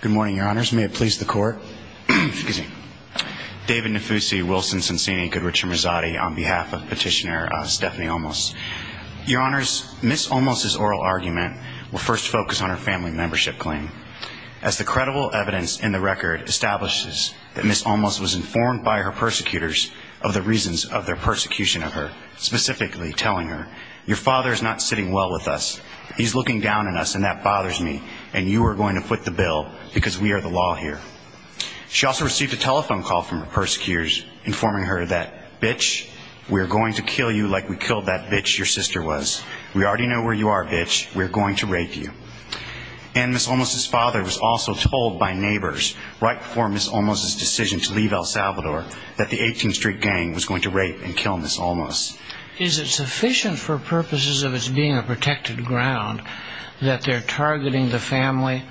Good morning, Your Honors. May it please the Court. David Nafusi, Wilson-Sonsini, Goodrich and Mazzotti on behalf of Petitioner Stephanie Olmos. Your Honors, Ms. Olmos' oral argument will first focus on her family membership claim. As the credible evidence in the record establishes that Ms. Olmos was informed by her persecutors of the reasons of their persecution of her, specifically telling her, your father is not sitting well with us. He's looking down on us and that bothers me and you are going to foot the bill because we are the law here. She also received a telephone call from her persecutors informing her that, bitch, we're going to kill you like we killed that bitch your sister was. We already know where you are, bitch. We're going to rape you. And Ms. Olmos' father was also told by neighbors right before Ms. Olmos' decision to leave El Salvador that the 18th Street Gang was going to rape and kill Ms. Olmos. Is it sufficient for purposes of its being a protected ground that they're targeting the family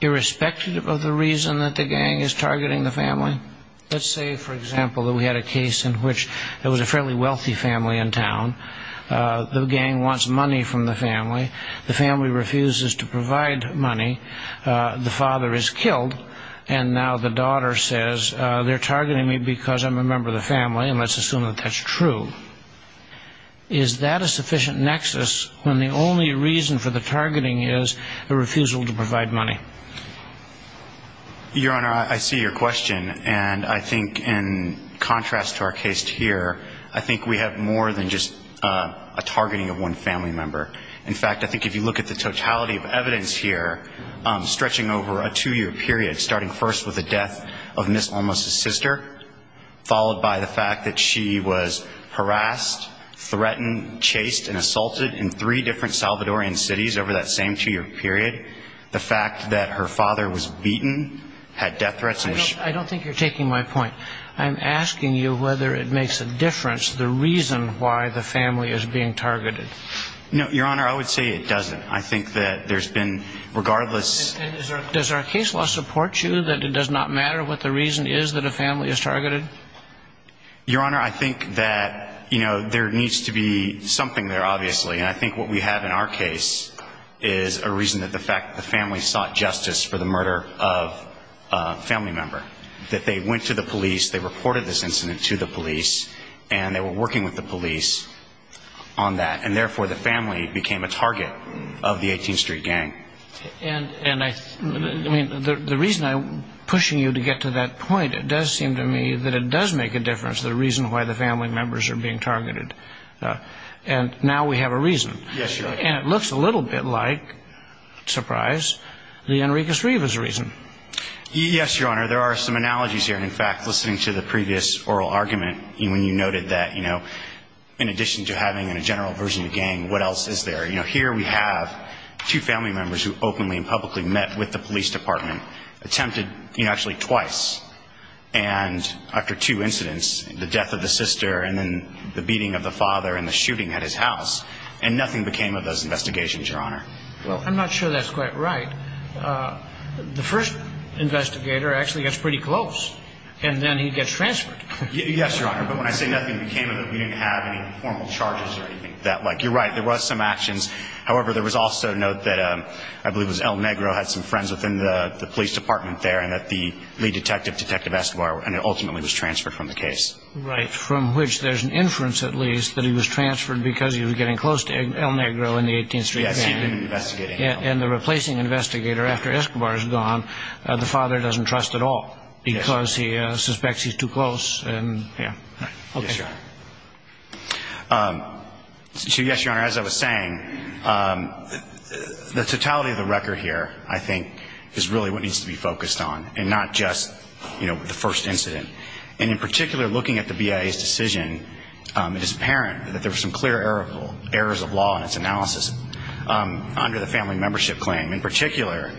irrespective of the reason that the gang is targeting the family? Let's say, for example, that we had a case in which there was a fairly wealthy family in town. The gang wants money from the family. The family refuses to provide money. The father is killed and now the daughter says, they're targeting me because I'm a member of the family and let's assume that that's true. Is that a sufficient nexus when the only reason for the targeting is a refusal to provide money? Your Honor, I see your question. And I think in contrast to our case here, I think we have more than just a targeting of one family member. In fact, I think if you look at the totality of evidence here, stretching over a two-year period, starting first with the death of Ms. Olmos' sister, followed by the fact that she was harassed, threatened, chased and assaulted in three different Salvadorian cities over that same two-year period, the fact that her father was beaten, had death threats and was shot. I don't think you're taking my point. I'm asking you whether it makes a difference the reason why the family is being targeted. No, Your Honor, I would say it doesn't. I think that there's been regardless And does our case law support you that it does not matter what the reason is that a family is targeted? Your Honor, I think that there needs to be something there, obviously. And I think what we have in our case is a reason that the fact that the family sought justice for the murder of a family member. That they went to the police, they reported this incident to the police, and they were working with the police on that. And therefore, the family became a target of the 18th Street Gang. And I mean, the reason I'm pushing you to get to that point, it does seem to me that it does make a difference the reason why the family members are being targeted. And now we have a reason. Yes, Your Honor. And it looks a little bit like, surprise, the Enriquez-Rivas reason. Yes, Your Honor. There are some analogies here. In fact, listening to the previous oral argument, when you noted that, you know, in addition to having a general version of the met with the police department. Attempted, you know, actually twice. And after two incidents, the death of the sister, and then the beating of the father, and the shooting at his house. And nothing became of those investigations, Your Honor. Well, I'm not sure that's quite right. The first investigator actually gets pretty close. And then he gets transferred. Yes, Your Honor. But when I say nothing became of it, we didn't have any formal charges or anything of that like. You're right, there was some actions. However, there was also a note that, I believe it was El Negro, had some friends within the police department there. And that the lead detective, Detective Escobar, ultimately was transferred from the case. Right. From which there's an inference, at least, that he was transferred because he was getting close to El Negro in the 18th Street van. Yes, he had been investigating. And the replacing investigator, after Escobar is gone, the father doesn't trust at all. Because he suspects he's too close, and, yeah, okay. So, yes, Your Honor, as I was saying, the totality of the record here, I think, is really what needs to be focused on. And not just, you know, the first incident. And in particular, looking at the BIA's decision, it is apparent that there were some clear errors of law in its analysis under the family membership claim. In particular,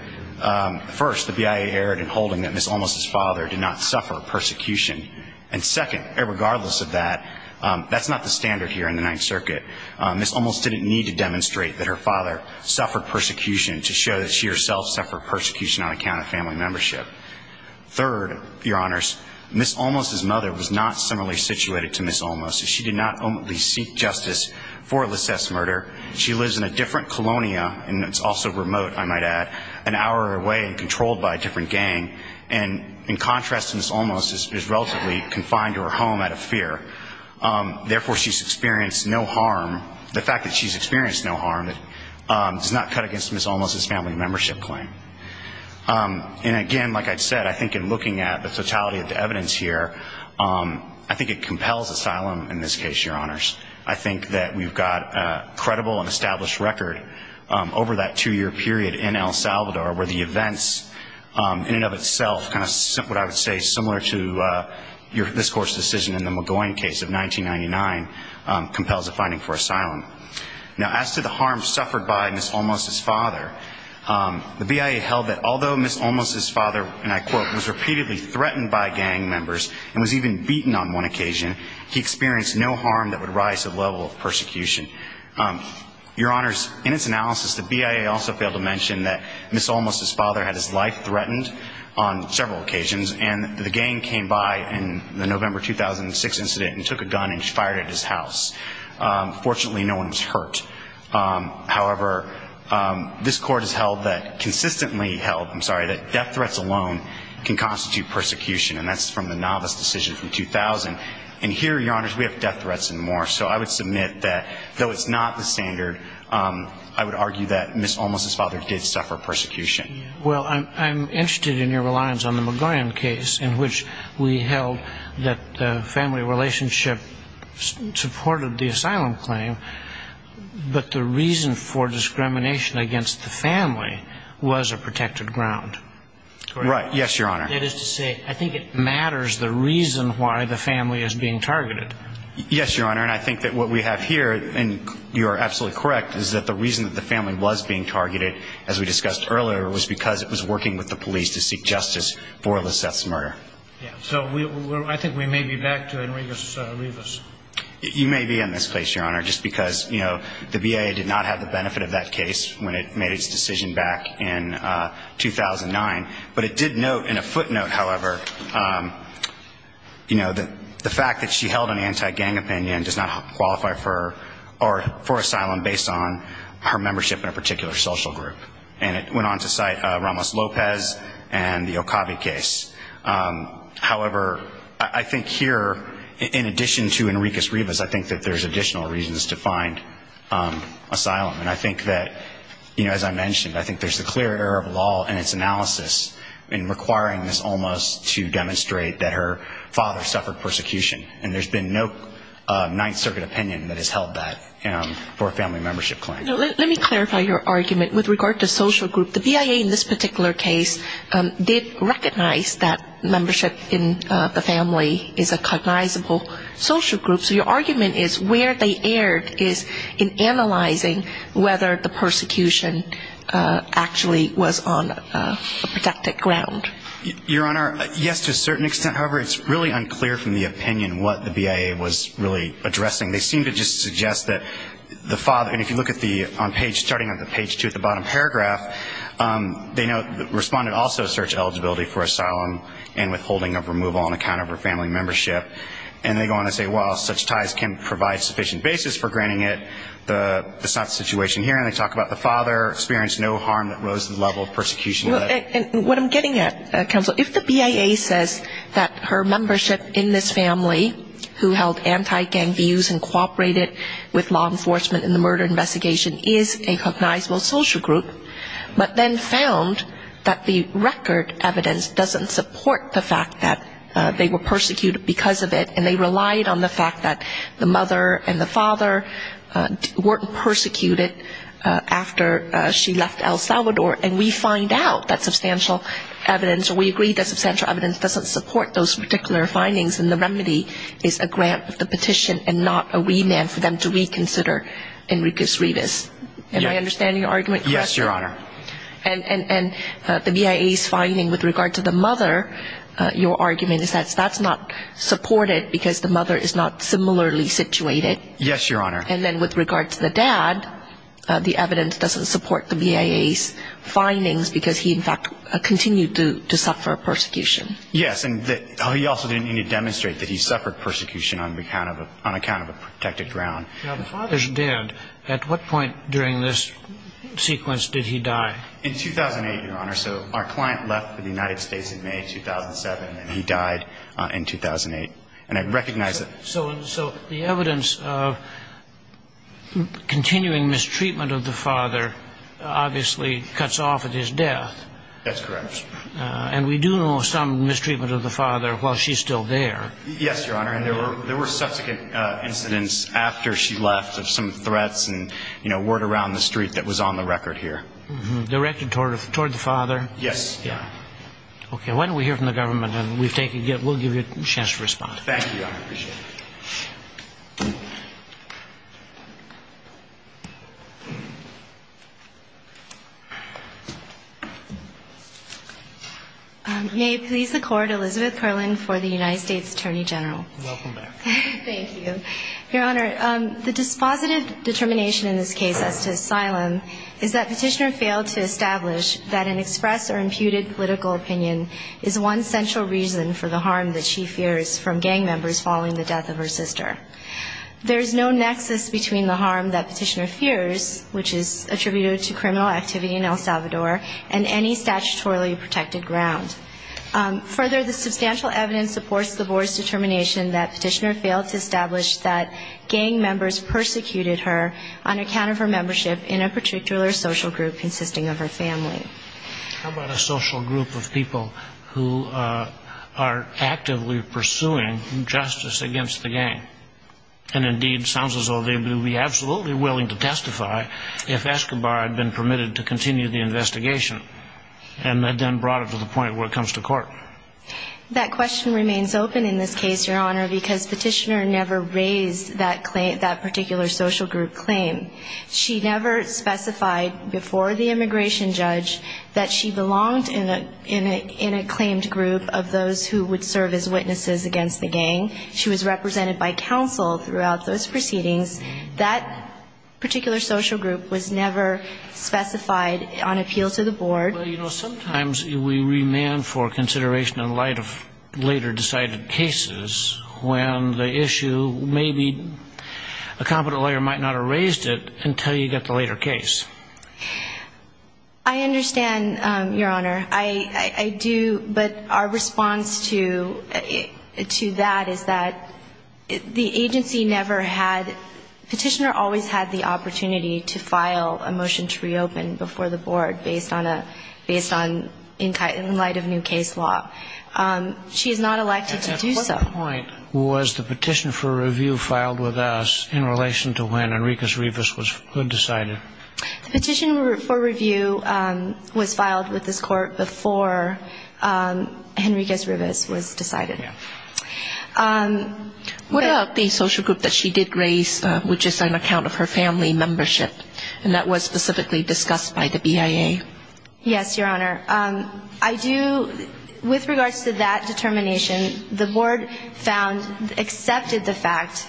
first, the BIA erred in holding that Ms. Olmos' father did not suffer persecution. And second, regardless of that, that's not the standard here in the Ninth Circuit. Ms. Olmos didn't need to demonstrate that her father suffered persecution to show that she, herself, suffered persecution on account of family membership. Third, Your Honors, Ms. Olmos' mother was not similarly situated to Ms. Olmos. She did not ultimately seek justice for Lisette's murder. She lives in a different colonia, and it's also remote, I might add, an hour away and controlled by a different gang. And, in contrast, Ms. Olmos is relatively confined to her home out of fear. Therefore, she's experienced no harm. The fact that she's experienced no harm does not cut against Ms. Olmos' family membership claim. And, again, like I said, I think in looking at the totality of the evidence here, I think it compels asylum in this case, Your Honors. I think that we've got a credible and established record over that two-year period in El Salvador where the events, in and of itself, what I would say is similar to this Court's decision in the Magoyan case of 1999, compels a finding for asylum. Now, as to the harm suffered by Ms. Olmos' father, the BIA held that although Ms. Olmos' father, and I quote, was repeatedly threatened by gang members and was even beaten on one occasion, he experienced no harm that would rise to the level of persecution. Your Honors, in its analysis, the BIA also failed to mention that Ms. Olmos' father had his life threatened on several occasions. And the gang came by in the November 2006 incident and took a gun and fired at his house. Fortunately, no one was hurt. However, this Court has held that, consistently held, I'm sorry, that death threats alone can constitute persecution. And that's from the novice decision from 2000. And here, Your Honors, we have death threats and more. So I would submit that though it's not the standard, I would argue that Ms. Olmos' father did suffer persecution. Well, I'm interested in your reliance on the Magoyan case in which we held that the family relationship supported the asylum claim, but the reason for discrimination against the family was a protected ground. Right. Yes, Your Honor. That is to say, I think it matters the reason why the family is being targeted. Yes, Your Honor. And I think that what we have here, and you are absolutely correct, is that the reason that the family was being targeted, as we discussed earlier, was because it was working with the police to seek justice for Liseth's murder. So I think we may be back to Enriquez Rivas. You may be in this case, Your Honor, just because, you know, the BIA did not have the footnote, however, you know, the fact that she held an anti-gang opinion does not qualify for asylum based on her membership in a particular social group. And it went on to cite Ramos Lopez and the Okabe case. However, I think here, in addition to Enriquez Rivas, I think that there's additional reasons to find asylum. And I think that, you know, as I mentioned, I think there's a clear error of law in its almost to demonstrate that her father suffered persecution. And there's been no Ninth Circuit opinion that has held that for a family membership claim. Let me clarify your argument. With regard to social group, the BIA in this particular case did recognize that membership in the family is a cognizable social group. So your argument is where they erred is in analyzing whether the persecution actually was on a protected ground. Your Honor, yes, to a certain extent. However, it's really unclear from the opinion what the BIA was really addressing. They seem to just suggest that the father, and if you look at the, on page, starting at the page two at the bottom paragraph, they know, responded also to search eligibility for asylum and withholding of removal on account of her family membership. And they go on to say, well, such ties can provide sufficient basis for granting it. The, that's not the situation here. And they talk about the father experienced no harm that rose to the level of persecution. Well, and what I'm getting at, Counsel, if the BIA says that her membership in this family who held anti-gang views and cooperated with law enforcement in the murder investigation is a cognizable social group, but then found that the record evidence doesn't support the fact that they were persecuted because of it, and they relied on the fact that the mother and the father weren't persecuted after she left El Salvador. And we find out that substantial evidence, or we agree that substantial evidence doesn't support those particular findings, and the remedy is a grant of the petition and not a remand for them to reconsider Enriquez-Rivas. Am I understanding your argument, Counselor? Yes, Your Honor. And the BIA's finding with regard to the mother, your argument is that that's not supported because the mother is not similarly situated. Yes, Your Honor. And then with regard to the dad, the evidence doesn't support the BIA's findings because he, in fact, continued to suffer persecution. Yes. And he also didn't even demonstrate that he suffered persecution on account of a protected ground. Now, the father's dead. At what point during this sequence did he die? In 2008, Your Honor. So our client left for the United States in May 2007, and he died in 2008. And I recognize that... So the evidence of continuing mistreatment of the father obviously cuts off at his death. That's correct. And we do know some mistreatment of the father while she's still there. Yes, Your Honor. And there were subsequent incidents after she left of some threats and, you know, word around the street that was on the record here. Directed toward the father? Yes, Your Honor. Okay. Why don't we hear from the government, and we'll give you a chance to respond. Thank you, Your Honor. I appreciate it. May it please the Court, Elizabeth Perlin for the United States Attorney General. Welcome back. Thank you. Your Honor, the dispositive determination in this case as to asylum is that Petitioner failed to establish that an express or imputed political opinion is one central reason for the harm that she fears from gang members following the death of her sister. There's no nexus between the harm that Petitioner fears, which is attributed to criminal activity in El Salvador, and any statutorily protected ground. Further, the substantial evidence supports the Board's determination that Petitioner failed to establish that gang members persecuted her on account of her membership in a particular social group consisting of her family. How about a social group of people who are actively pursuing justice against the gang? And indeed, sounds as though they would be absolutely willing to testify if Escobar had been permitted to continue the investigation, and had then brought it to the point where it comes to court. That question remains open in this case, Your Honor, because Petitioner never raised that claim, that particular social group claim. She never specified before the immigration judge that she belonged in a claimed group of those who would serve as witnesses against the gang. She was represented by counsel throughout those proceedings. That particular social group was never specified on appeal to the Board. Well, you know, sometimes we remand for consideration in light of later decided cases when the issue may be, a competent lawyer might not have raised it until you get the later case. I understand, Your Honor. I do, but our response to that is that the agency never had, Petitioner always had the opportunity to file a motion to reopen before the Board based on, in light of new case law. She is not elected to do so. My point was the petition for review filed with us in relation to when Henriquez-Rivas was decided. The petition for review was filed with this Court before Henriquez-Rivas was decided. What about the social group that she did raise, which is on account of her family membership, and that was specifically discussed by the BIA? Yes, Your Honor. I do, with regards to that determination, the Board found, accepted the fact,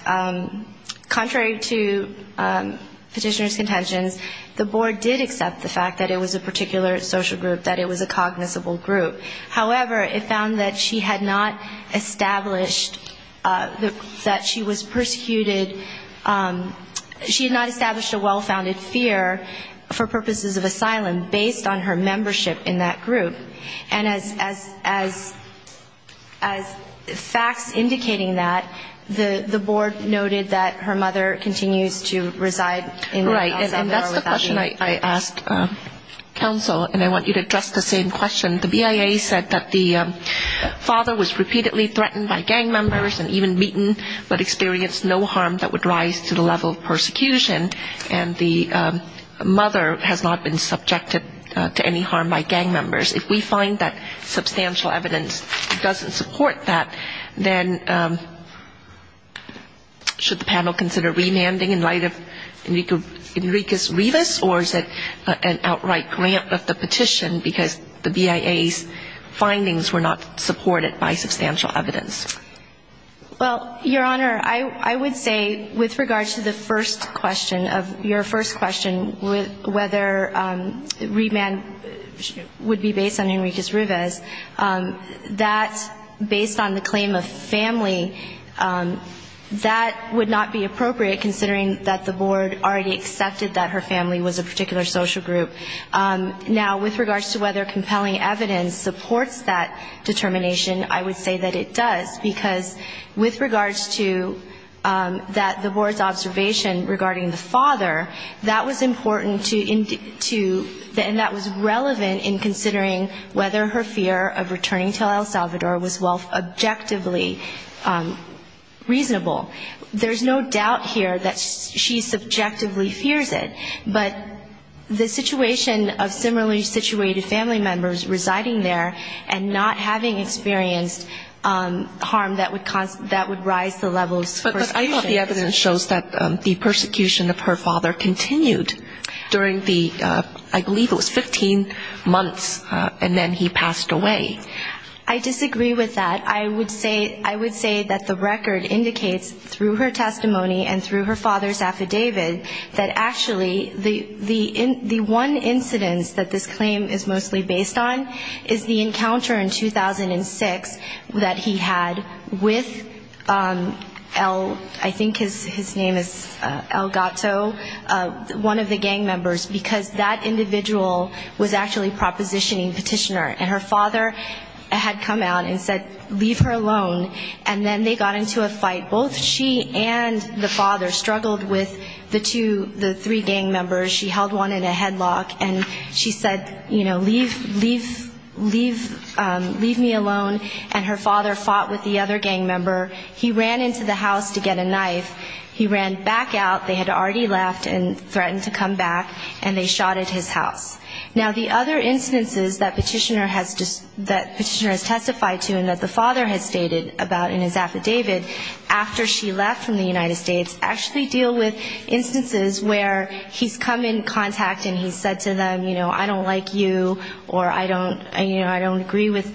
contrary to Petitioner's contentions, the Board did accept the fact that it was a particular social group, that it was a cognizable group. However, it found that she had not established, that she was persecuted, she had not established a well-founded fear for purposes of asylum based on her membership in that group. And as facts indicating that, the Board noted that her mother continues to reside in the house that they are without leave. Right, and that's the question I asked counsel, and I want you to address the same question. The BIA said that the father was repeatedly threatened by gang members and even beaten, but experienced no harm that would rise to the level of persecution, and the mother has not been subjected to any harm by gang members. If we find that substantial evidence doesn't support that, then should the panel consider remanding in light of Henriquez-Rivas, or is it an outright grant of the petition because the BIA's findings were not supported by substantial evidence? Well, Your Honor, I would say with regard to the first question of your first question, whether remand would be based on Henriquez-Rivas, that based on the claim of family, that would not be appropriate considering that the Board already accepted that her family was a particular social group. Now, with regards to whether compelling evidence supports that determination, I would say that it does, because with regards to that, the Board's observation regarding the father, that was important to, and that was relevant in considering whether her fear of returning to El Salvador was objectively reasonable. There's no doubt here that she subjectively fears it, but the situation of similarly situated family members residing there and not having experienced harm that would rise the levels of persecution. But I thought the evidence shows that the persecution of her father continued during the, I believe it was 15 months, and then he passed away. I disagree with that. I would say that the record indicates through her testimony and through her father's affidavit that actually the one incidence that this claim is mostly based on is the encounter in 2006 that he had with El, I think his name is El Gato, one of the gang members, because that individual was actually propositioning Petitioner, and her father had come out and said, leave her alone. And then they got into a fight. Both she and the father struggled with the two, the three gang members. She held one in a headlock and she said, you know, leave, leave, leave, leave me alone. And her father fought with the other gang member. He ran into the house to get a knife. He ran back out. They had already left and threatened to come back, and they shot at his house. Now the other instances that Petitioner has, that Petitioner has testified to and that the father has stated about in his affidavit after she left from the United States actually deal with instances where he's come in contact and he's said to them, you know, I don't like you or I don't, you know, I don't agree with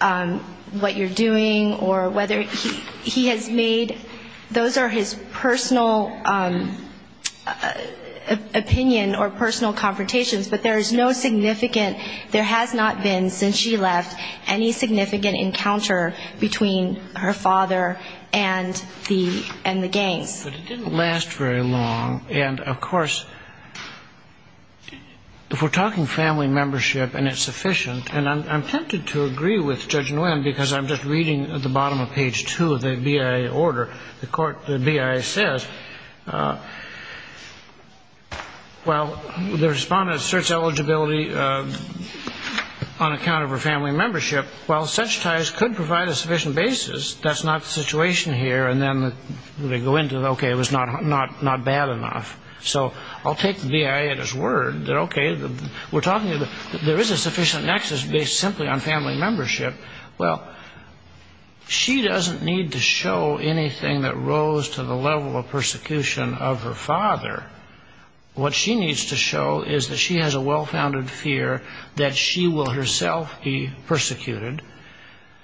what you're doing or whether he has made, those are his personal opinion or personal confrontations, but there is no significant, there has not been since she left any significant encounter between her father and the, and the gangs. But it didn't last very long. And of course, if we're talking family membership and it's sufficient, and I'm tempted to agree with Judge Nguyen because I'm just reading at the bottom of page two of the BIA order, the court, the BIA says, well, the respondent asserts eligibility on account of her family membership. Well, such ties could provide a sufficient basis. That's not the situation here. And then they go into, okay, it was not bad enough. So I'll take the BIA at its word that, okay, we're talking, there is a sufficient nexus based simply on family membership. Well, she doesn't need to show anything that rose to the level of persecution of her father. What she needs to show is that she has a well-founded fear that she will herself be persecuted.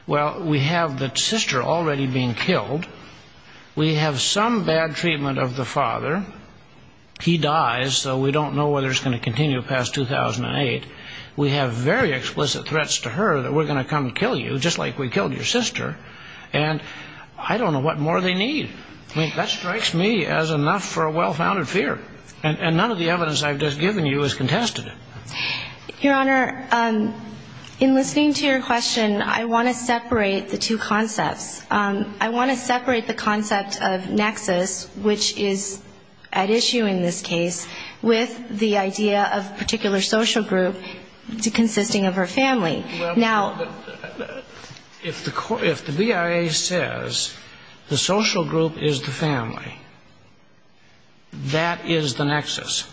Well, we have the sister already being killed. We have some bad treatment of the father. He dies, so we don't know whether it's going to continue past 2008. We have very explicit threats to her that we're going to come and that strikes me as enough for a well-founded fear. And none of the evidence I've just given you has contested it. Your Honor, in listening to your question, I want to separate the two concepts. I want to separate the concept of nexus, which is at issue in this case, with the idea of particular social group consisting of her family. Well, if the BIA says the social group is the family, that is the nexus.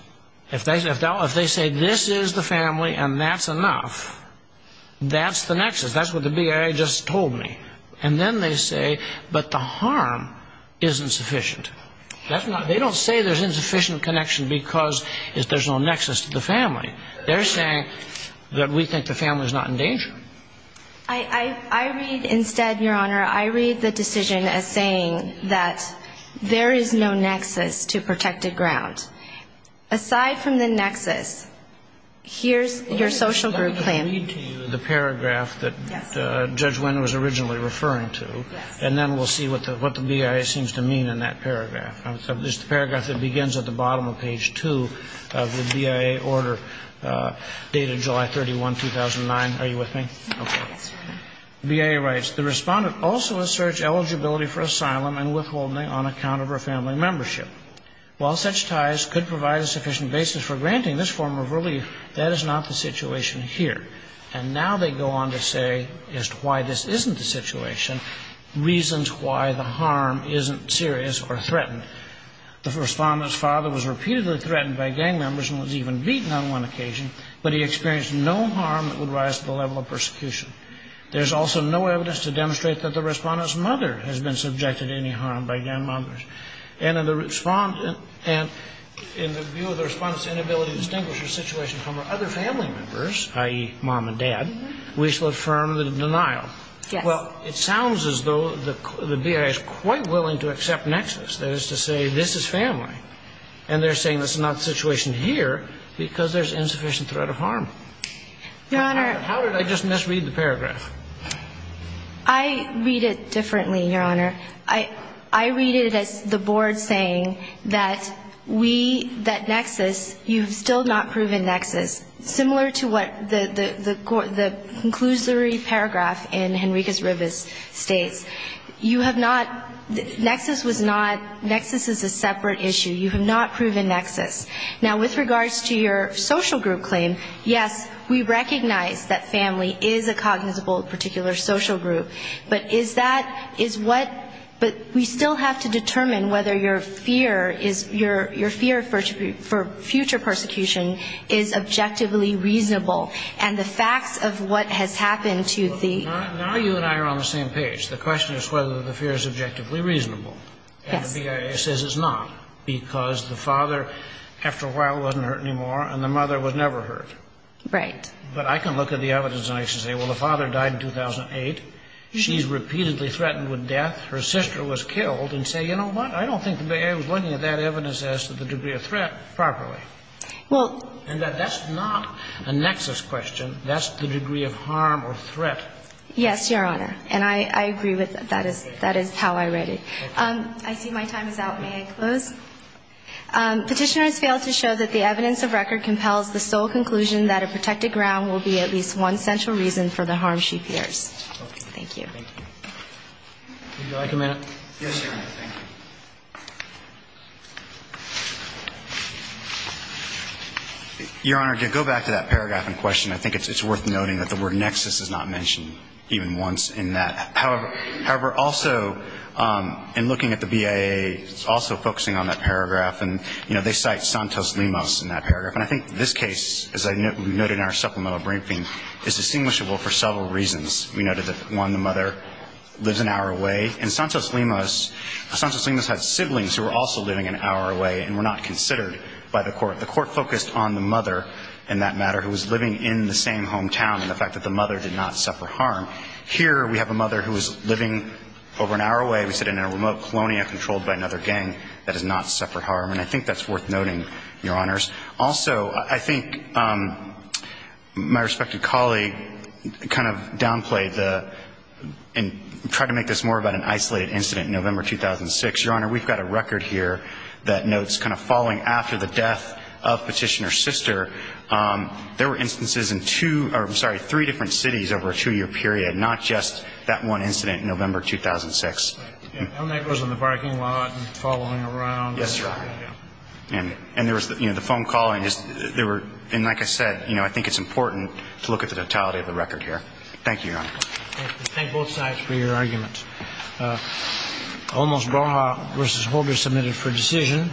If they say this is the family and that's enough, that's the nexus. That's what the BIA just told me. And then they say, but the harm isn't sufficient. They don't say there's insufficient connection because there's no nexus to the family. They're saying that we think the family is not in danger. I read instead, Your Honor, I read the decision as saying that there is no nexus to protected ground. Aside from the nexus, here's your social group claim. Let me read to you the paragraph that Judge Wynn was originally referring to, and then we'll see what the BIA seems to mean in that paragraph. It's the paragraph that begins at the bottom of page 2 of the BIA order, dated July 31, 2009. Are you with me? Okay. BIA writes, The Respondent also asserts eligibility for asylum and withholding on account of her family membership. While such ties could provide a sufficient basis for granting this form of relief, that is not the situation here. And now they go on to say, as to why this isn't the situation, reasons why the harm isn't serious or threatened. The Respondent's father was repeatedly threatened by gang members and was even beaten on one occasion, but he experienced no harm that would rise to the level of persecution. There's also no evidence to demonstrate that the Respondent's mother has been subjected to any harm by gang members. And in the view of the Respondent's inability to distinguish her situation from her other family members, i.e., mom and dad, we shall affirm the denial. Yes. Well, it sounds as though the BIA is quite willing to accept nexus, that is to say, this is family. And they're saying this is not the situation here because there's insufficient threat of harm. Your Honor. How did I just misread the paragraph? I read it differently, Your Honor. I read it as the Board saying that we, that nexus, you've still not proven nexus. Similar to what the conclusory paragraph in Henriquez-Rivas states. You have not, nexus was not, nexus is a separate issue. You have not proven nexus. Now, with regards to your social group claim, yes, we recognize that family is a cognizable particular social group. But is that, is what, but we still have to determine whether your fear for future persecution is objectively reasonable. And the facts of what has happened to the Well, now you and I are on the same page. The question is whether the fear is objectively reasonable. Yes. And the BIA says it's not because the father, after a while, wasn't hurt anymore and the mother was never hurt. Right. But I can look at the evidence and I can say, well, the father died in 2008. She's repeatedly threatened with death. Her sister was killed. And say, you know what, I don't think the degree of threat is properly. Well And that that's not a nexus question. That's the degree of harm or threat. Yes, Your Honor. And I agree with that. That is how I read it. I see my time is out. May I close? Petitioner has failed to show that the evidence of record compels the sole conclusion that a protected ground will be at least one central reason for the harm she fears. Thank you. Thank you. Would you like a minute? Yes, Your Honor. Thank you. Your Honor, to go back to that paragraph in question, I think it's worth noting that the word nexus is not mentioned even once in that. However, also, in looking at the BIA, it's also focusing on that paragraph. And, you know, they cite Santos-Limas in that paragraph. And I think this case, as I noted in our supplemental briefing, is distinguishable for several reasons. We noted that, one, the mother lives an hour away. And Santos-Limas had siblings who were also living an hour away and were not considered by the court. The court focused on the mother, in that matter, who was living in the same hometown and the fact that the mother did not suffer harm. Here, we have a mother who was living over an hour away. We sit in a remote colonia controlled by another gang that has not suffered harm. And I think that's worth noting, Your Honors. Also, I think my respected colleague kind of downplayed the – and tried to make this more about an isolated incident in November 2006. Your Honor, we've got a record here that notes kind of following after the death of Petitioner's sister, there were instances in two – or, I'm sorry, three different cities over a two-year period, not just that one incident in November 2006. And that goes on the parking lot and following around. Yes, Your Honor. And there was, you know, the phone call and just – there were – and like I said, you know, I think it's important to look at the totality of the record here. Thank you, Your Honor. Thank you. Thank both sides for your arguments. Olmos-Baja v. Holger submitted for decision.